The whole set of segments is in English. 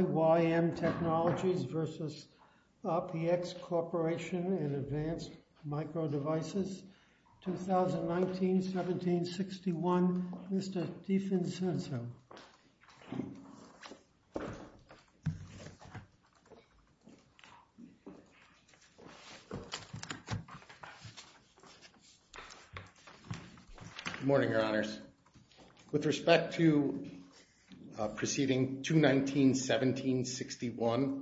and Advanced Microdevices, 2019-17-61, Mr. DiFincenzo. IYM Technologies LLC v. RPX Corporation and Advanced Microdevices, 2019-17-61, Mr. DiFincenzo. Good morning, Your Honors. With respect to proceeding 2-19-17-61,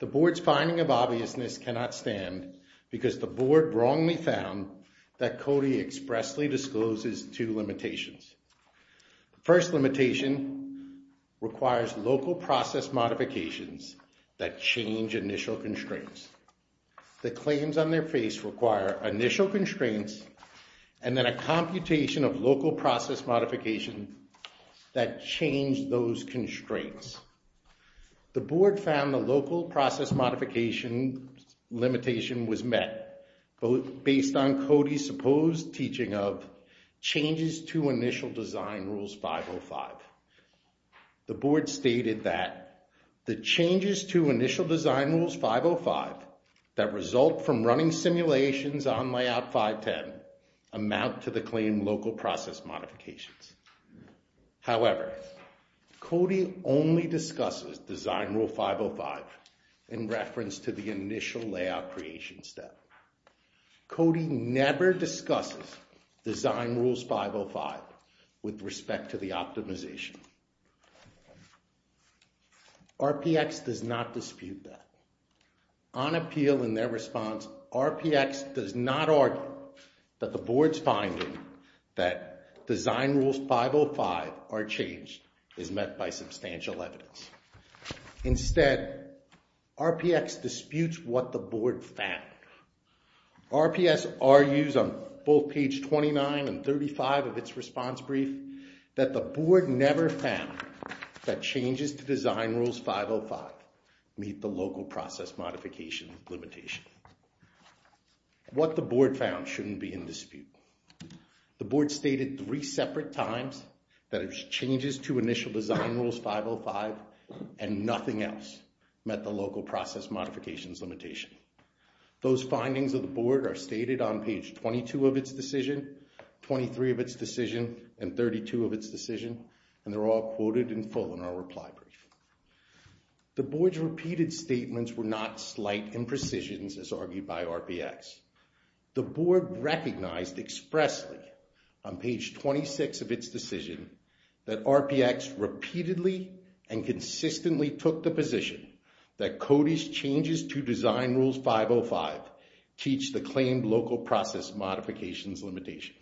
the Board's finding of obviousness cannot stand because the Board wrongly found that CODI expressly discloses two limitations. The first limitation requires local process modifications that change initial constraints. The claims on their face require initial constraints and then a computation of local process modification that change those constraints. The Board found the local process modification limitation was met based on CODI's supposed teaching of changes to initial design rules 505 that result from running simulations on layout 510 amount to the claim local process modifications. However, CODI only discusses design rule 505 in reference to the initial layout creation step. CODI never discusses design rules 505 with respect to the optimization. RPX does not dispute that. On appeal in their response, RPX does not argue that the Board's finding that design rules 505 are changed is met by substantial evidence. Instead, RPX disputes what the Board found. RPS argues on both page 29 and 35 of its response brief that the Board never found that changes to design rules 505 meet the local process modification limitation. What the Board found shouldn't be in dispute. The Board stated three separate times that changes to initial design rules 505 and nothing else met the local process modifications limitation. Those findings of the Board are stated on page 22 of its decision, 23 of its decision, and 32 of its decision, and they're all quoted in full in our reply brief. The Board's repeated statements were not slight imprecisions as argued by RPX. The Board recognized expressly on page 26 of its decision that RPX repeatedly and consistently took the position that CODI's changes to design rules 505 teach the claimed local process modifications limitation.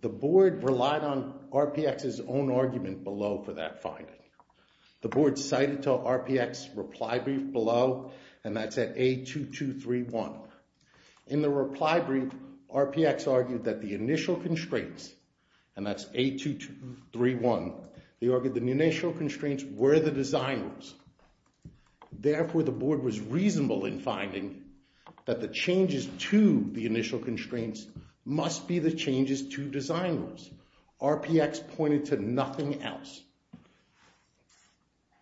The Board relied on RPX's own argument below for that finding. The Board cited to RPX's reply brief below, and that's at A2231. In the reply brief, RPX argued that the initial constraints, and that's A2231, they argued the initial that the changes to the initial constraints must be the changes to design rules. RPX pointed to nothing else.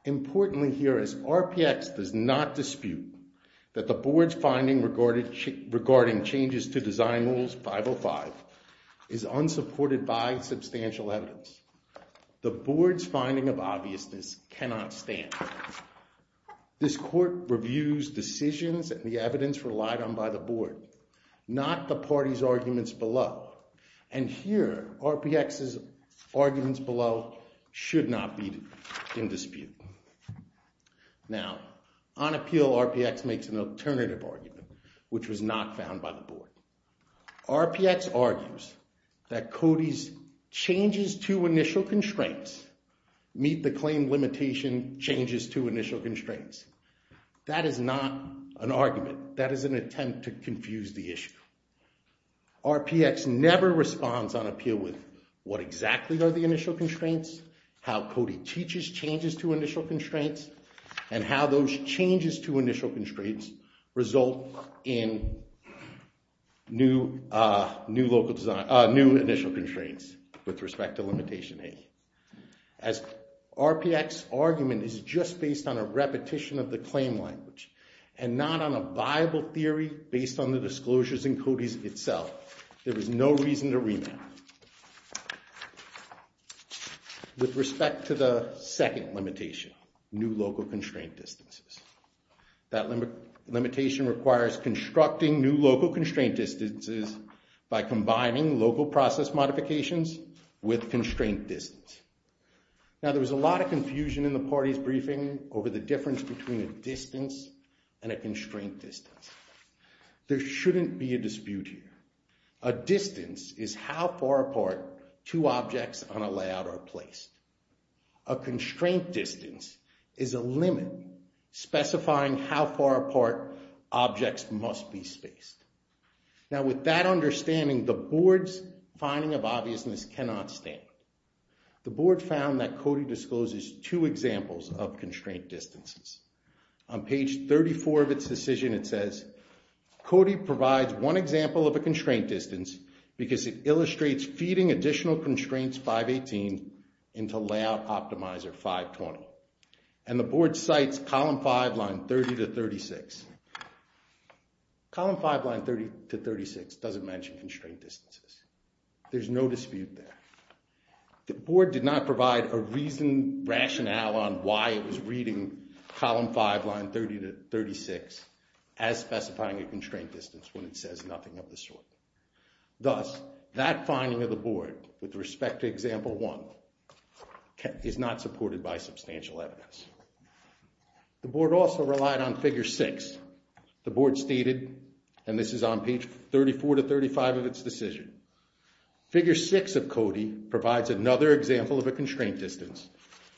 Importantly here is RPX does not dispute that the Board's finding regarding changes to design rules 505 is unsupported by substantial evidence. The Board's finding of obviousness cannot stand. This court reviews decisions and the evidence relied on by the Board, not the party's arguments below. And here, RPX's arguments below should not be in dispute. Now, on appeal, RPX makes an alternative argument, which was not found by the Board. RPX argues that CODI's changes to initial constraints meet the claim limitation changes to initial constraints. That is not an argument. That is an attempt to confuse the issue. RPX never responds on appeal with what exactly are the initial constraints, how CODI teaches changes to initial constraints result in new initial constraints with respect to limitation A. As RPX's argument is just based on a repetition of the claim language and not on a viable theory based on the disclosures in CODI's itself, there is no reason to remap. With respect to the second limitation, new local constraint distances. That limitation requires constructing new local constraint distances by combining local process modifications with constraint distance. Now, there was a lot of confusion in the party's briefing over the difference between a distance and a constraint distance. There shouldn't be a dispute here. A distance is how far apart two objects on a layout are placed. A constraint distance is a limit, specifying how far apart objects must be spaced. Now, with that understanding, the Board's finding of obviousness cannot stand. The Board found that CODI discloses two examples of constraint distances. On page 34 of its decision, it constraint distance because it illustrates feeding additional constraints 518 into layout optimizer 520. And the Board cites column 5, line 30 to 36. Column 5, line 30 to 36 doesn't mention constraint distances. There's no dispute there. The Board did not provide a reason, rationale on why it was reading column 5, line 30 to 36 as specifying a constraint distance of this sort. Thus, that finding of the Board with respect to example 1 is not supported by substantial evidence. The Board also relied on figure 6. The Board stated, and this is on page 34 to 35 of its decision, figure 6 of CODI provides another example of a constraint distance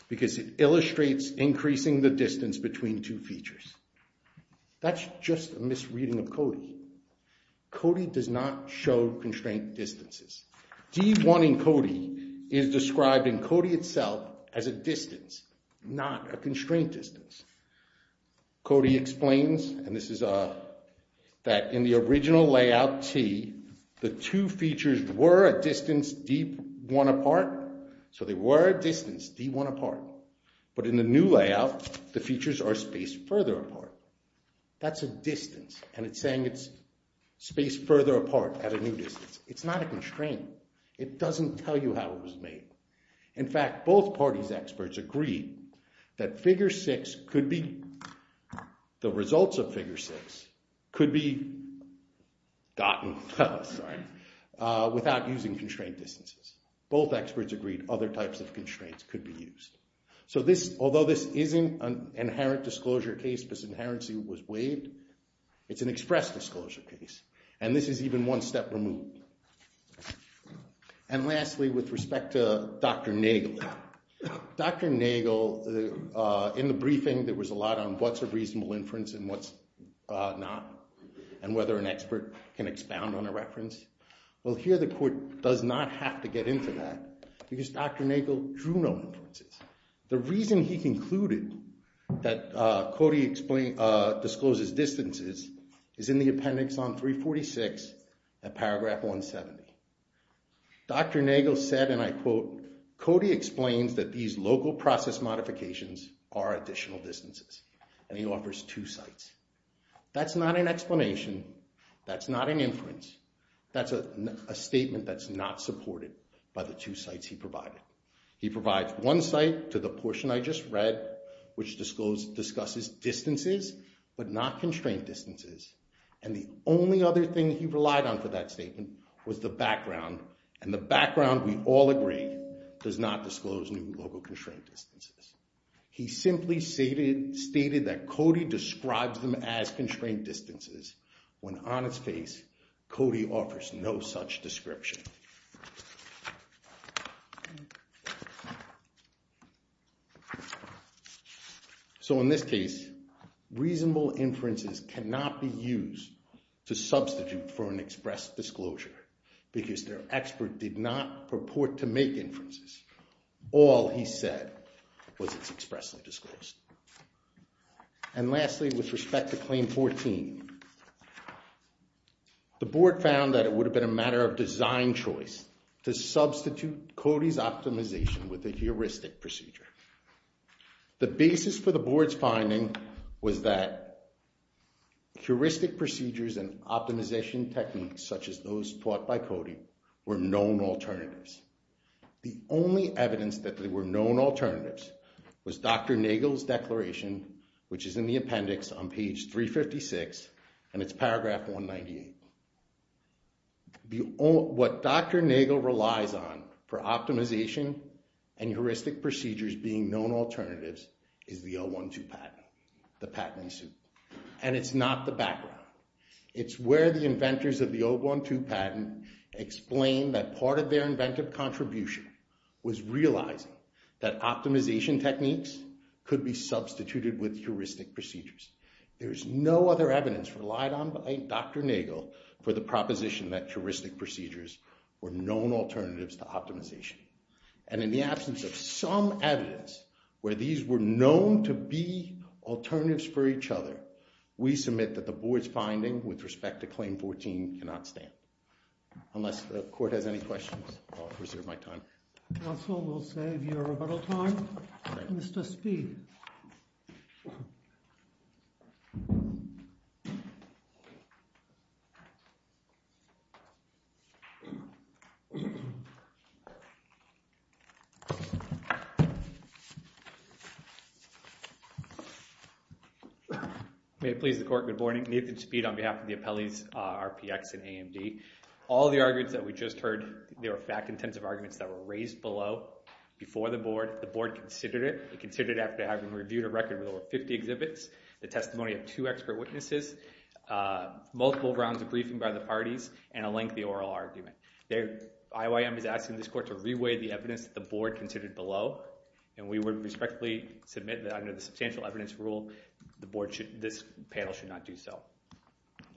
because it illustrates increasing the distance between two features. That's just a misreading of CODI. CODI does not show constraint distances. D1 in CODI is described in CODI itself as a distance, not a constraint distance. CODI explains, and this is that in the original layout T, the two features were a distance D1 apart. So they were a distance D1 apart. But in the new layout, the features are spaced further apart. That's a distance, and it's saying it's spaced further apart at a new distance. It's not a constraint. It doesn't tell you how it was made. In without using constraint distances. Both experts agreed other types of constraints could be used. So this, although this isn't an inherent disclosure case because inherency was waived, it's an express disclosure case, and this is even one step removed. And lastly, with respect to Dr. Nagel. Dr. Nagel, in the briefing, there was a lot on what's a reasonable inference and what's not, and whether an expert can expound on a reference. Well, here the court does not have to get into that because Dr. Nagel drew no inferences. The reason he concluded that CODI discloses distances is in the appendix on 346 and paragraph 170. Dr. Nagel said, and I quote, CODI explains that these local process modifications are additional distances, and he offers two sites. That's not an inference. That's a statement that's not supported by the two sites he provided. He provides one site to the portion I just read, which discloses distances, but not constraint distances, and the only other thing he relied on for that statement was the background, and the background, we all agree, does not disclose new local constraint distances. He simply stated that CODI describes them as constraint distances when on its face, CODI offers no such description. So in this case, reasonable inferences cannot be used to substitute for an express disclosure because their expert did not purport to make inferences. All he said was it's expressly disclosed. And lastly, with the board found that it would have been a matter of design choice to substitute CODI's optimization with a heuristic procedure. The basis for the board's finding was that heuristic procedures and optimization techniques such as those taught by CODI were known alternatives. The only and it's paragraph 198. What Dr. Nagel relies on for optimization and heuristic procedures being known alternatives is the O-1-2 patent, the patent in suit, and it's not the background. It's where the inventors of the O-1-2 patent explain that part of their inventive contribution was realizing that optimization techniques could be substituted with heuristic procedures. There is no other evidence relied on by Dr. Nagel for the proposition that heuristic procedures were known alternatives to optimization. And in the absence of some evidence where these were known to be alternatives for each other, we submit that the board's finding with respect to Claim 14 cannot stand. Unless the court has any questions, I'll move we'll save your rebuttal time. Mr. Speed. May it please the court, good morning. Nathan Speed on behalf of the appellees RPX and AMD. All the arguments that we just heard, they were fact-intensive arguments that were raised below before the board. The board considered it. It considered it after having reviewed a record with over 50 exhibits, the testimony of two expert witnesses, multiple rounds of briefing by the parties, and a lengthy oral argument. IYM is asking this court to reweigh the evidence that the board considered below, and we would respectfully submit that under the substantial evidence rule, the board should, this panel should not do so.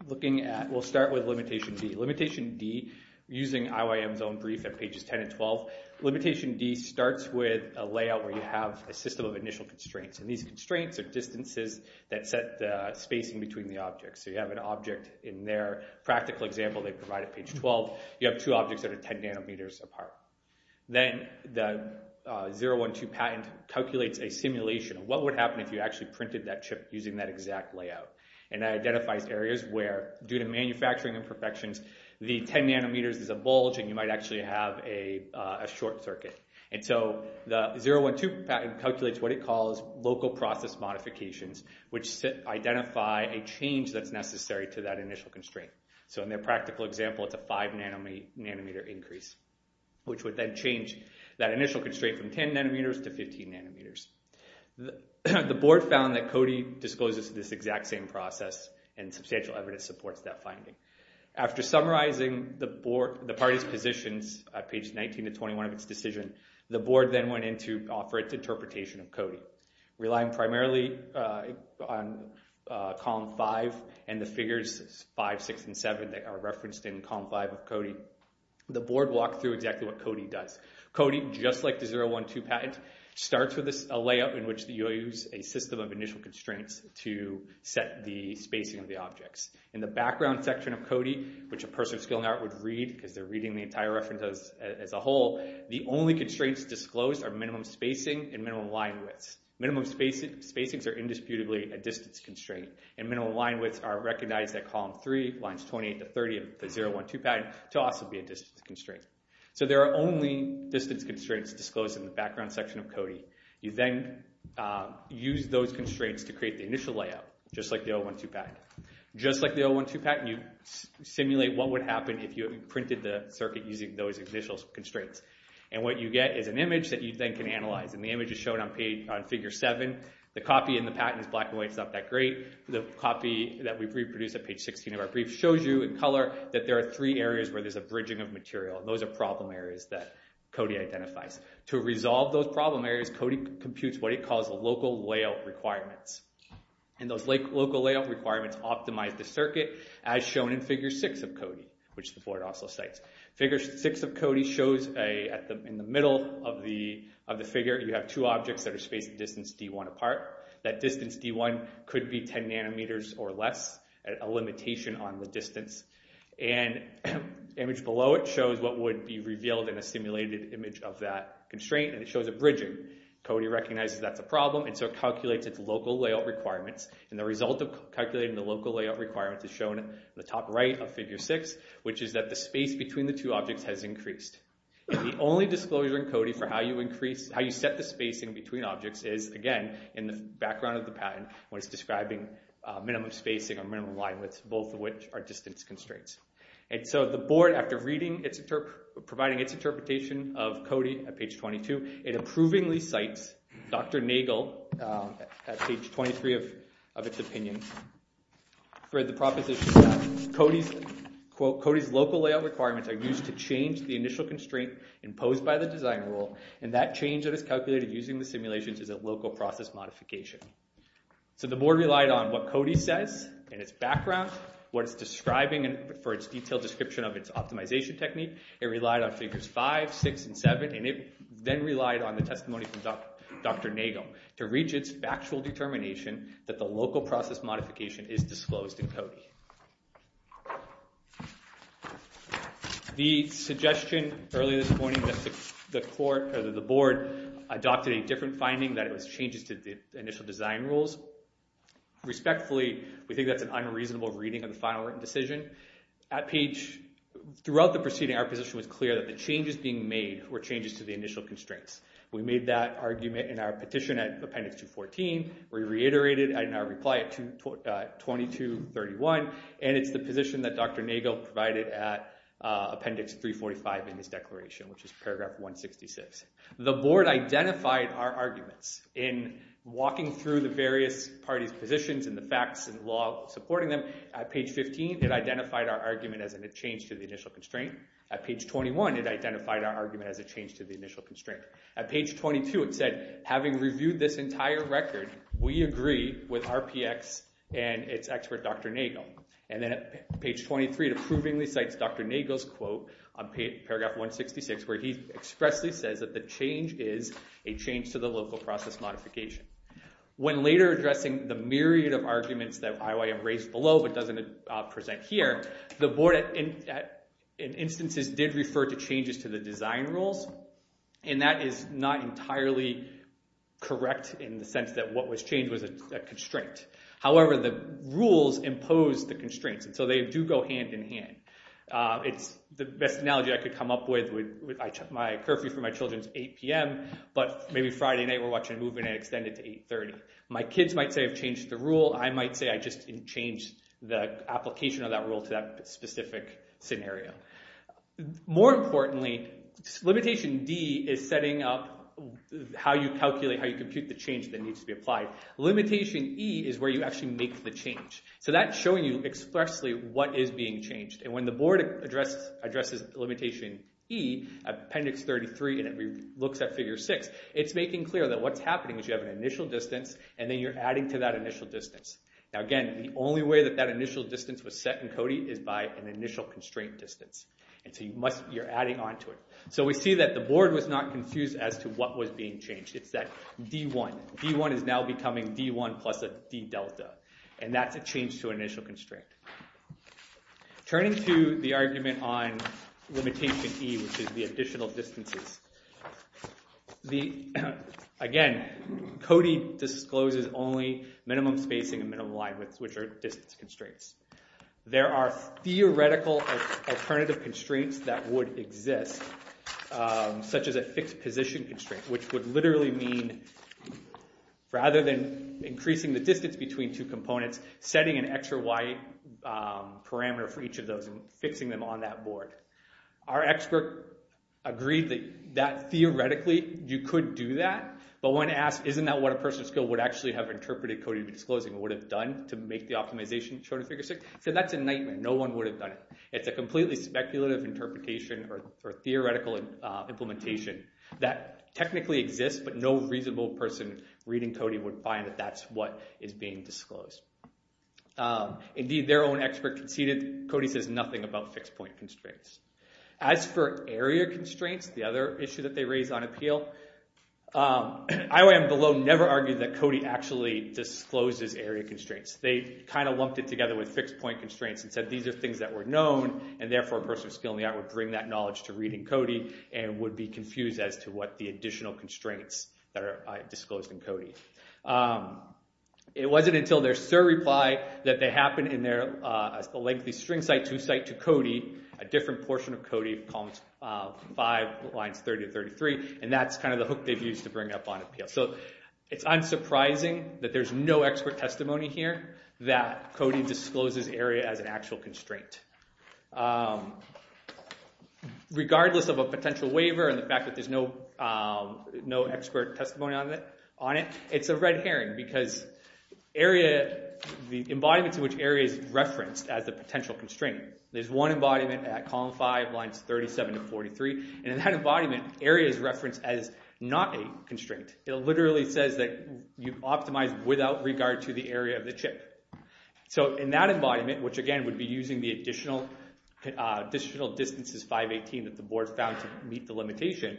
We'll start with limitation D. Limitation D, using IYM's own brief at pages 10 and 12, limitation D starts with a layout where you have a system of initial constraints. And these constraints are distances that set the spacing between the objects. So you have an object in their practical example they provide at page 12. You have two objects that are 10 nanometers apart. Then the 012 patent calculates a simulation of what would happen if you actually printed that chip using that exact layout. And that identifies areas where, due to manufacturing imperfections, the 10 nanometers is a bulge and you might actually have a short circuit. And so the 012 patent calculates what it calls local process modifications, which identify a change that's necessary to that initial constraint. So in their practical example, it's a 5 nanometer increase, which would then change that initial constraint from 10 nanometers to 15 nanometers. The board found that CODI discloses this exact same process and substantial evidence supports that finding. After summarizing the board, the party's positions at page 19 to 21 of its decision, the board then went in to offer its interpretation of CODI. Relying primarily on column 5 and the figures 5, 6, and 7 that are referenced in column 5 of CODI, the board walked through exactly what CODI does. CODI, just like the 012 patent, starts with a layout in which you use a system of initial constraints to set the spacing of the objects. In the background section of CODI, which a person of skill and art would read because they're reading the entire reference as a whole, the only constraints disclosed are minimum spacing and minimum line widths. Minimum spacings are indisputably a constraint. So there are only distance constraints disclosed in the background section of CODI. You then use those constraints to create the initial layout, just like the 012 patent. Just like the 012 patent, you simulate what would happen if you printed the circuit using those initial constraints. What you get is an image that you then can color that there are three areas where there's a bridging of material. Those are problem areas that CODI identifies. To resolve those problem areas, CODI computes what it calls local layout requirements. Those local layout requirements optimize the circuit, as shown in figure 6 of CODI, which the board also cites. Figure 6 of CODI shows in the image below it shows what would be revealed in a simulated image of that constraint, and it shows a bridging. CODI recognizes that's a problem, and so it calculates its local layout requirements. The result of calculating the local layout requirements is shown in the top right of figure 6, which is that the space between the two objects has increased. The only disclosure in CODI for how you set the spacing between objects is, again, in the background of the patent when it's describing minimum spacing or distance constraints. The board, after providing its interpretation of CODI at page 22, it approvingly cites Dr. Nagel at page 23 of its opinion for the proposition that CODI's local layout requirements are used to change the initial constraint imposed by the design rule, and that change that is calculated using the for its detailed description of its optimization technique. It relied on figures 5, 6, and 7, and it then relied on the testimony from Dr. Nagel to reach its factual determination that the local process modification is disclosed in CODI. The suggestion earlier this morning that the board adopted a different finding that it was changes to the initial design rules. Respectfully, we think that's an unreasonable reading of the final written decision. At page, throughout the proceeding, our position was clear that the changes being made were changes to the initial constraints. We made that argument in our petition at appendix 214. We reiterated it in our reply at 2231, and it's the through the various parties' positions and the facts and law supporting them. At page 15, it identified our argument as a change to the initial constraint. At page 21, it identified our argument as a change to the initial constraint. At page 22, it said, having reviewed this entire record, we agree with RPX and its expert Dr. Nagel. And then at page 23, it approvingly Dr. Nagel's quote on paragraph 166, where he expressly says that the change is a change to the local process modification. When later addressing the myriad of arguments that IYM raised below but doesn't present here, the board, in instances, did refer to changes to the design rules, and that is not entirely correct in the sense that what was changed was a constraint. However, the rules impose the constraints, and so they do go hand in hand. It's the best analogy I could come up with. My curfew for my children is 8 p.m., but maybe Friday night we're watching a movie and I extend it to 8.30. My kids might say I've changed the rule. I might say I just changed the application of that rule to that specific scenario. More importantly, limitation D is setting up how you calculate, how you compute the change that needs to be applied. Limitation E is where you actually make the change. So that's showing you expressly what is being changed. When the board addresses limitation E, appendix 33, and it looks at figure 6, it's making clear that what's happening is you have an initial distance, and then you're adding to that initial distance. Now, again, the only way that that initial distance was set in CODI is by an initial constraint distance, and so you're adding on to it. So we see that the board was not confused as to what was being changed. It's that D1. D1 is now becoming D1 plus a D delta, and that's a change to an initial constraint. Turning to the argument on limitation E, which is the additional distances, again, CODI discloses only minimum spacing and minimum line widths, which are distance constraints. There are theoretical alternative constraints that would exist, such as a fixed position constraint, which would literally mean, rather than increasing the distance between two components, setting an x or y parameter for each of those and fixing them on that board. Our expert agreed that, theoretically, you could do that, but when asked, isn't that what a person of skill would actually have interpreted CODI disclosing would have done to make the optimization show to figure 6, he said, that's a nightmare. No one would have done it. It's a completely speculative interpretation or theoretical implementation that technically exists, but no reasonable person reading CODI would find that that's what is being disclosed. Indeed, their own expert conceded that CODI says nothing about fixed point constraints. As for area constraints, the other issue that they raised on appeal, IOM Below never argued that CODI actually discloses area constraints. They kind of lumped it together with fixed point constraints and said these are things that were known, and therefore a person of skill in the art would bring that knowledge to reading CODI and would be confused as to what the additional constraints that are disclosed in CODI. It wasn't until their SIR reply that they happened in their lengthy string cite-to-cite to CODI, a different portion of CODI, columns 5, lines 30 and 33, and that's kind of the hook they've used to bring up on appeal. It's unsurprising that there's no expert testimony here that CODI discloses area as an actual constraint. Regardless of a potential waiver and the fact that there's no expert testimony on it, it's a red herring because the embodiments in which area is referenced as a potential constraint. There's one embodiment at column 5, lines 37 to 43, and in that embodiment, area is referenced as not a constraint. It literally says that you optimize without regard to the area of the chip. In that embodiment, which again would be using the additional distances 5, 18 that the board found to meet the limitation,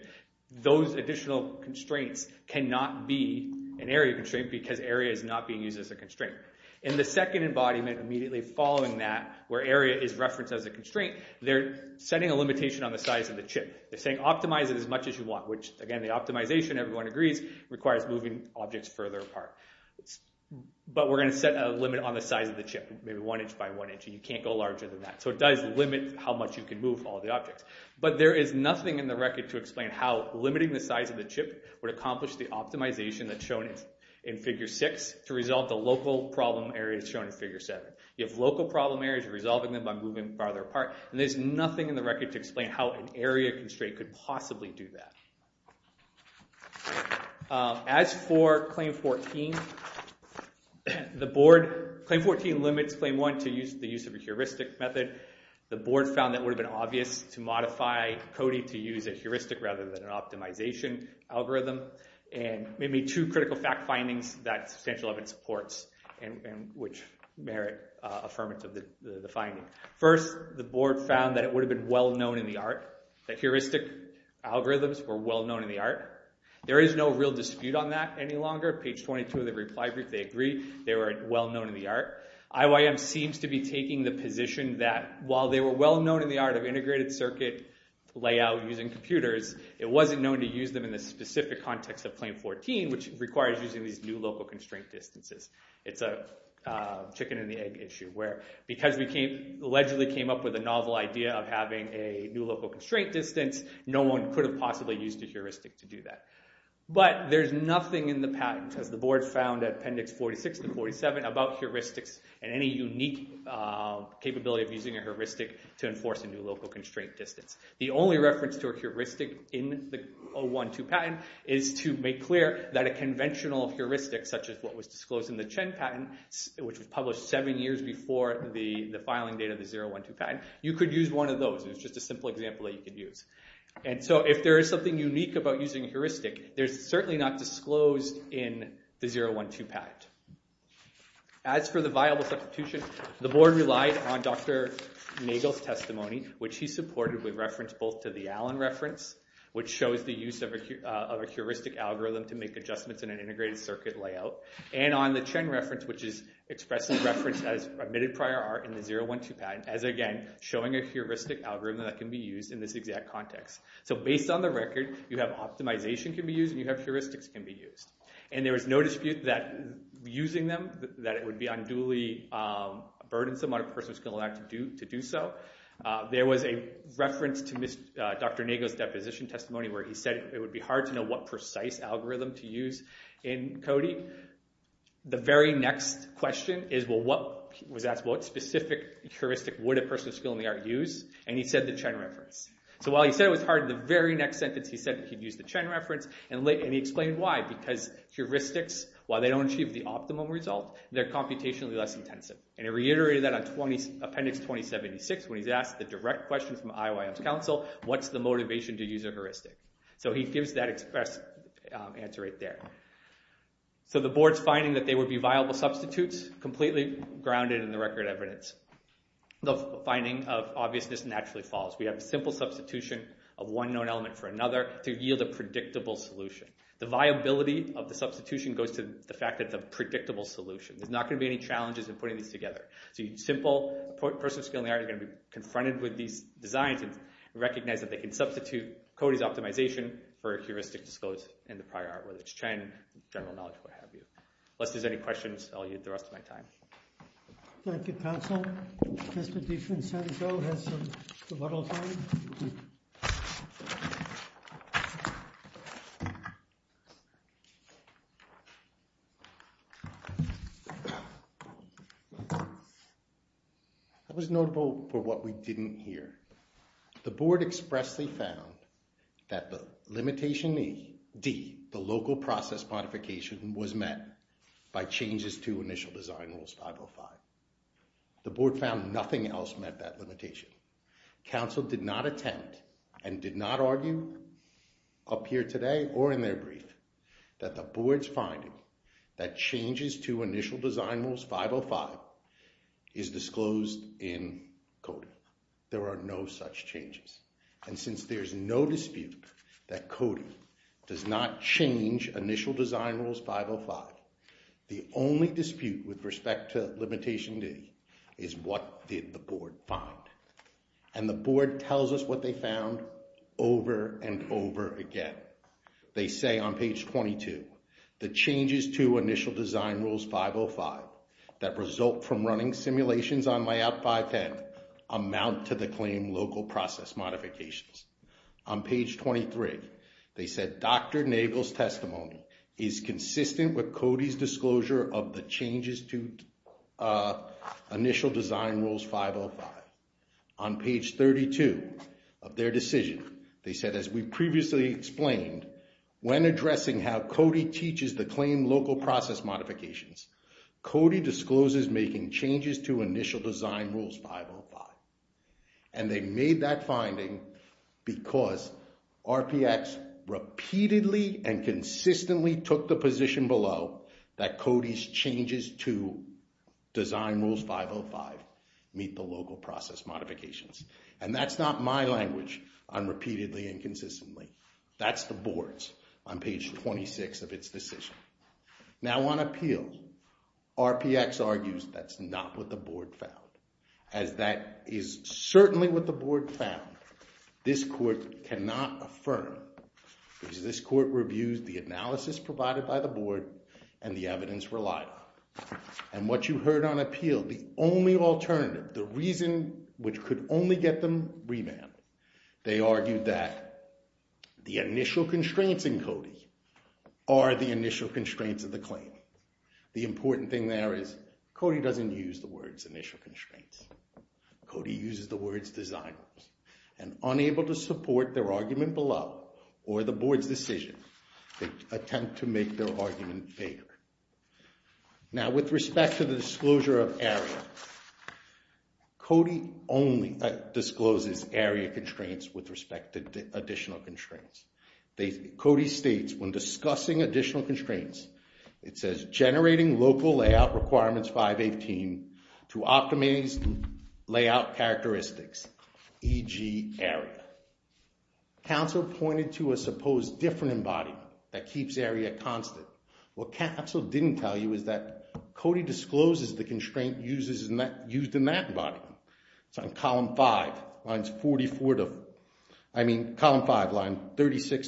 those additional constraints cannot be an area constraint because area is not being used as a constraint. In the second embodiment immediately following that, where area is referenced as a constraint, they're setting a limitation on the size of the chip. They're saying optimize it as much as you want, which again, the optimization, everyone agrees, requires moving objects further apart. But we're going to set a limit on the size of the chip, maybe 1 inch by 1 inch, and you can't go larger than that. So it does limit how much you can move all the objects. But there is nothing in the record to explain how limiting the size of the chip would accomplish the optimization that's shown in figure 6 to resolve the local problem areas shown in figure 7. You have local problem areas, you're resolving them by moving them farther apart, and there's nothing in the record to explain how an area constraint could possibly do that. As for Claim 14, the board, Claim 14 limits Claim 1 to the use of a heuristic method. The board found that it would have been obvious to modify CODI to use a heuristic rather than an optimization algorithm. And maybe two critical fact findings that substantial evidence supports, and which merit affirmative, the finding. First, the board found that it would have been well-known in the art, that heuristic algorithms were well-known in the art. There is no real dispute on that any longer. Page 22 of the reply brief, they agree, they were well-known in the art. IYM seems to be taking the position that while they were well-known in the art of integrated circuit layout using computers, it wasn't known to use them in the specific context of Claim 14, which requires using these new local constraint distances. It's a chicken-and-the-egg issue, where because we allegedly came up with a novel idea of having a new local constraint distance, no one could have possibly used a heuristic to do that. But there's nothing in the patent, as the board found at Appendix 46 to 47, about heuristics and any unique capability of using a heuristic to enforce a new local constraint distance. The only reference to a heuristic in the 012 patent is to make clear that a conventional heuristic, such as what was disclosed in the Chen patent, which was published seven years before the filing date of the 012 patent, you could use one of those. It was just a simple example that you could use. And so if there is something unique about using a heuristic, there's certainly not disclosed in the 012 patent. As for the viable substitution, the board relied on Dr. Nagel's testimony, which he supported with reference both to the Allen reference, which shows the use of a heuristic algorithm to make adjustments in an integrated circuit layout, and on the Chen reference, which is expressly referenced as omitted prior art in the 012 patent, as again, showing a heuristic algorithm that can be used in this exact context. So based on the record, you have optimization can be used, and you have heuristics can be used. And there was no dispute that using them, that it would be unduly burdensome on a person with a skill in the art to do so. There was a reference to Dr. Nagel's deposition testimony where he said it would be hard to know what precise algorithm to use in coding. The very next question is, well, what specific heuristic would a person with a skill in the art use? And he said the Chen reference. So while he said it was hard, the very next sentence he said he'd use the Chen reference, and he explained why. Because heuristics, while they don't achieve the optimum result, they're computationally less intensive. And he reiterated that on Appendix 2076 when he's asked the direct question from IOIM's counsel, what's the motivation to use a heuristic? So he gives that express answer right there. So the board's finding that they would be viable substitutes completely grounded in the record evidence. The finding of obviousness naturally follows. We have a simple substitution of one known element for another to yield a predictable solution. The viability of the substitution goes to the fact that it's a predictable solution. There's not going to be any challenges in putting these together. So a person with a skill in the art is going to be confronted with these designs and recognize that they can substitute Cody's optimization for a heuristic disclosed in the prior art, whether it's Chen, general knowledge, what have you. Unless there's any questions, I'll yield the rest of my time. Thank you, counsel. Mr. DiFrancisco has some rebuttal time. It was notable for what we didn't hear. The board expressly found that the limitation D, the local process modification, was met by changes to initial design rules 505. The board found nothing else met that limitation. Counsel did not attempt and did not argue, up here today or in their brief, that the board's finding that changes to initial design rules 505 is disclosed in Cody. There are no such changes. And since there's no dispute that Cody does not change initial design rules 505, the only dispute with respect to limitation D is what did the board find. And the board tells us what they found over and over again. They say on page 22, the changes to initial design rules 505 that result from running simulations on layout 510 amount to the claim local process modifications. On page 23, they said Dr. Nagel's testimony is consistent with Cody's disclosure of the changes to initial design rules 505. On page 32 of their decision, they said, as we previously explained, when addressing how Cody teaches the claim local process modifications, Cody discloses making changes to initial design rules 505. And they made that finding because RPX repeatedly and consistently took the position below that Cody's changes to design rules 505 meet the local process modifications. And that's not my language on repeatedly and consistently. That's the board's on page 26 of its decision. Now on appeal, RPX argues that's not what the board found. As that is certainly what the board found, this court cannot affirm. Because this court reviews the analysis provided by the board and the evidence relied on. And what you heard on appeal, the only alternative, the reason which could only get them revamped, they argued that the initial constraints in Cody are the initial constraints of the claim. The important thing there is Cody doesn't use the words initial constraints. Cody uses the words design rules. And unable to support their argument below or the board's decision, they attempt to make their argument vaguer. Now with respect to the disclosure of area, Cody only discloses area constraints with respect to additional constraints. Cody states when discussing additional constraints, it says generating local layout requirements 518 to optimize layout characteristics, e.g. area. Counsel pointed to a supposed different embodiment that keeps area constant. What counsel didn't tell you is that Cody discloses the constraint used in that embodiment. It's on column 5, lines 36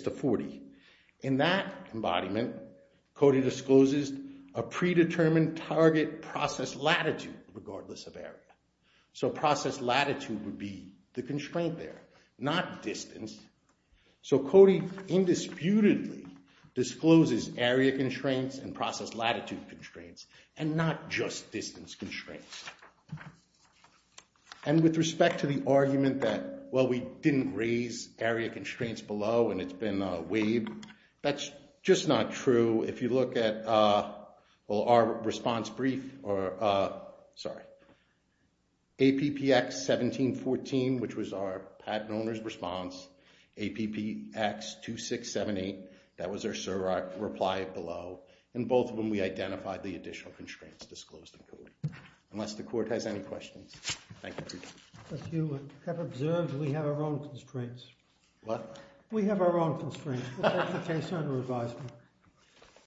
to 40. In that embodiment, Cody discloses a predetermined target process latitude regardless of area. So process latitude would be the constraint there, not distance. So Cody indisputably discloses area constraints and process latitude constraints and not just distance constraints. And with respect to the argument that, well, we didn't raise area constraints below and it's been waived, that's just not true. If you look at our response brief or, sorry, APPX 1714 which was our patent owner's response, APPX 2678, that was our surrogate, reply below. And both of them we identified the additional constraints disclosed in Cody. Unless the court has any questions. Thank you. But you have observed we have our own constraints. What? We have our own constraints. We'll take the case under advisement.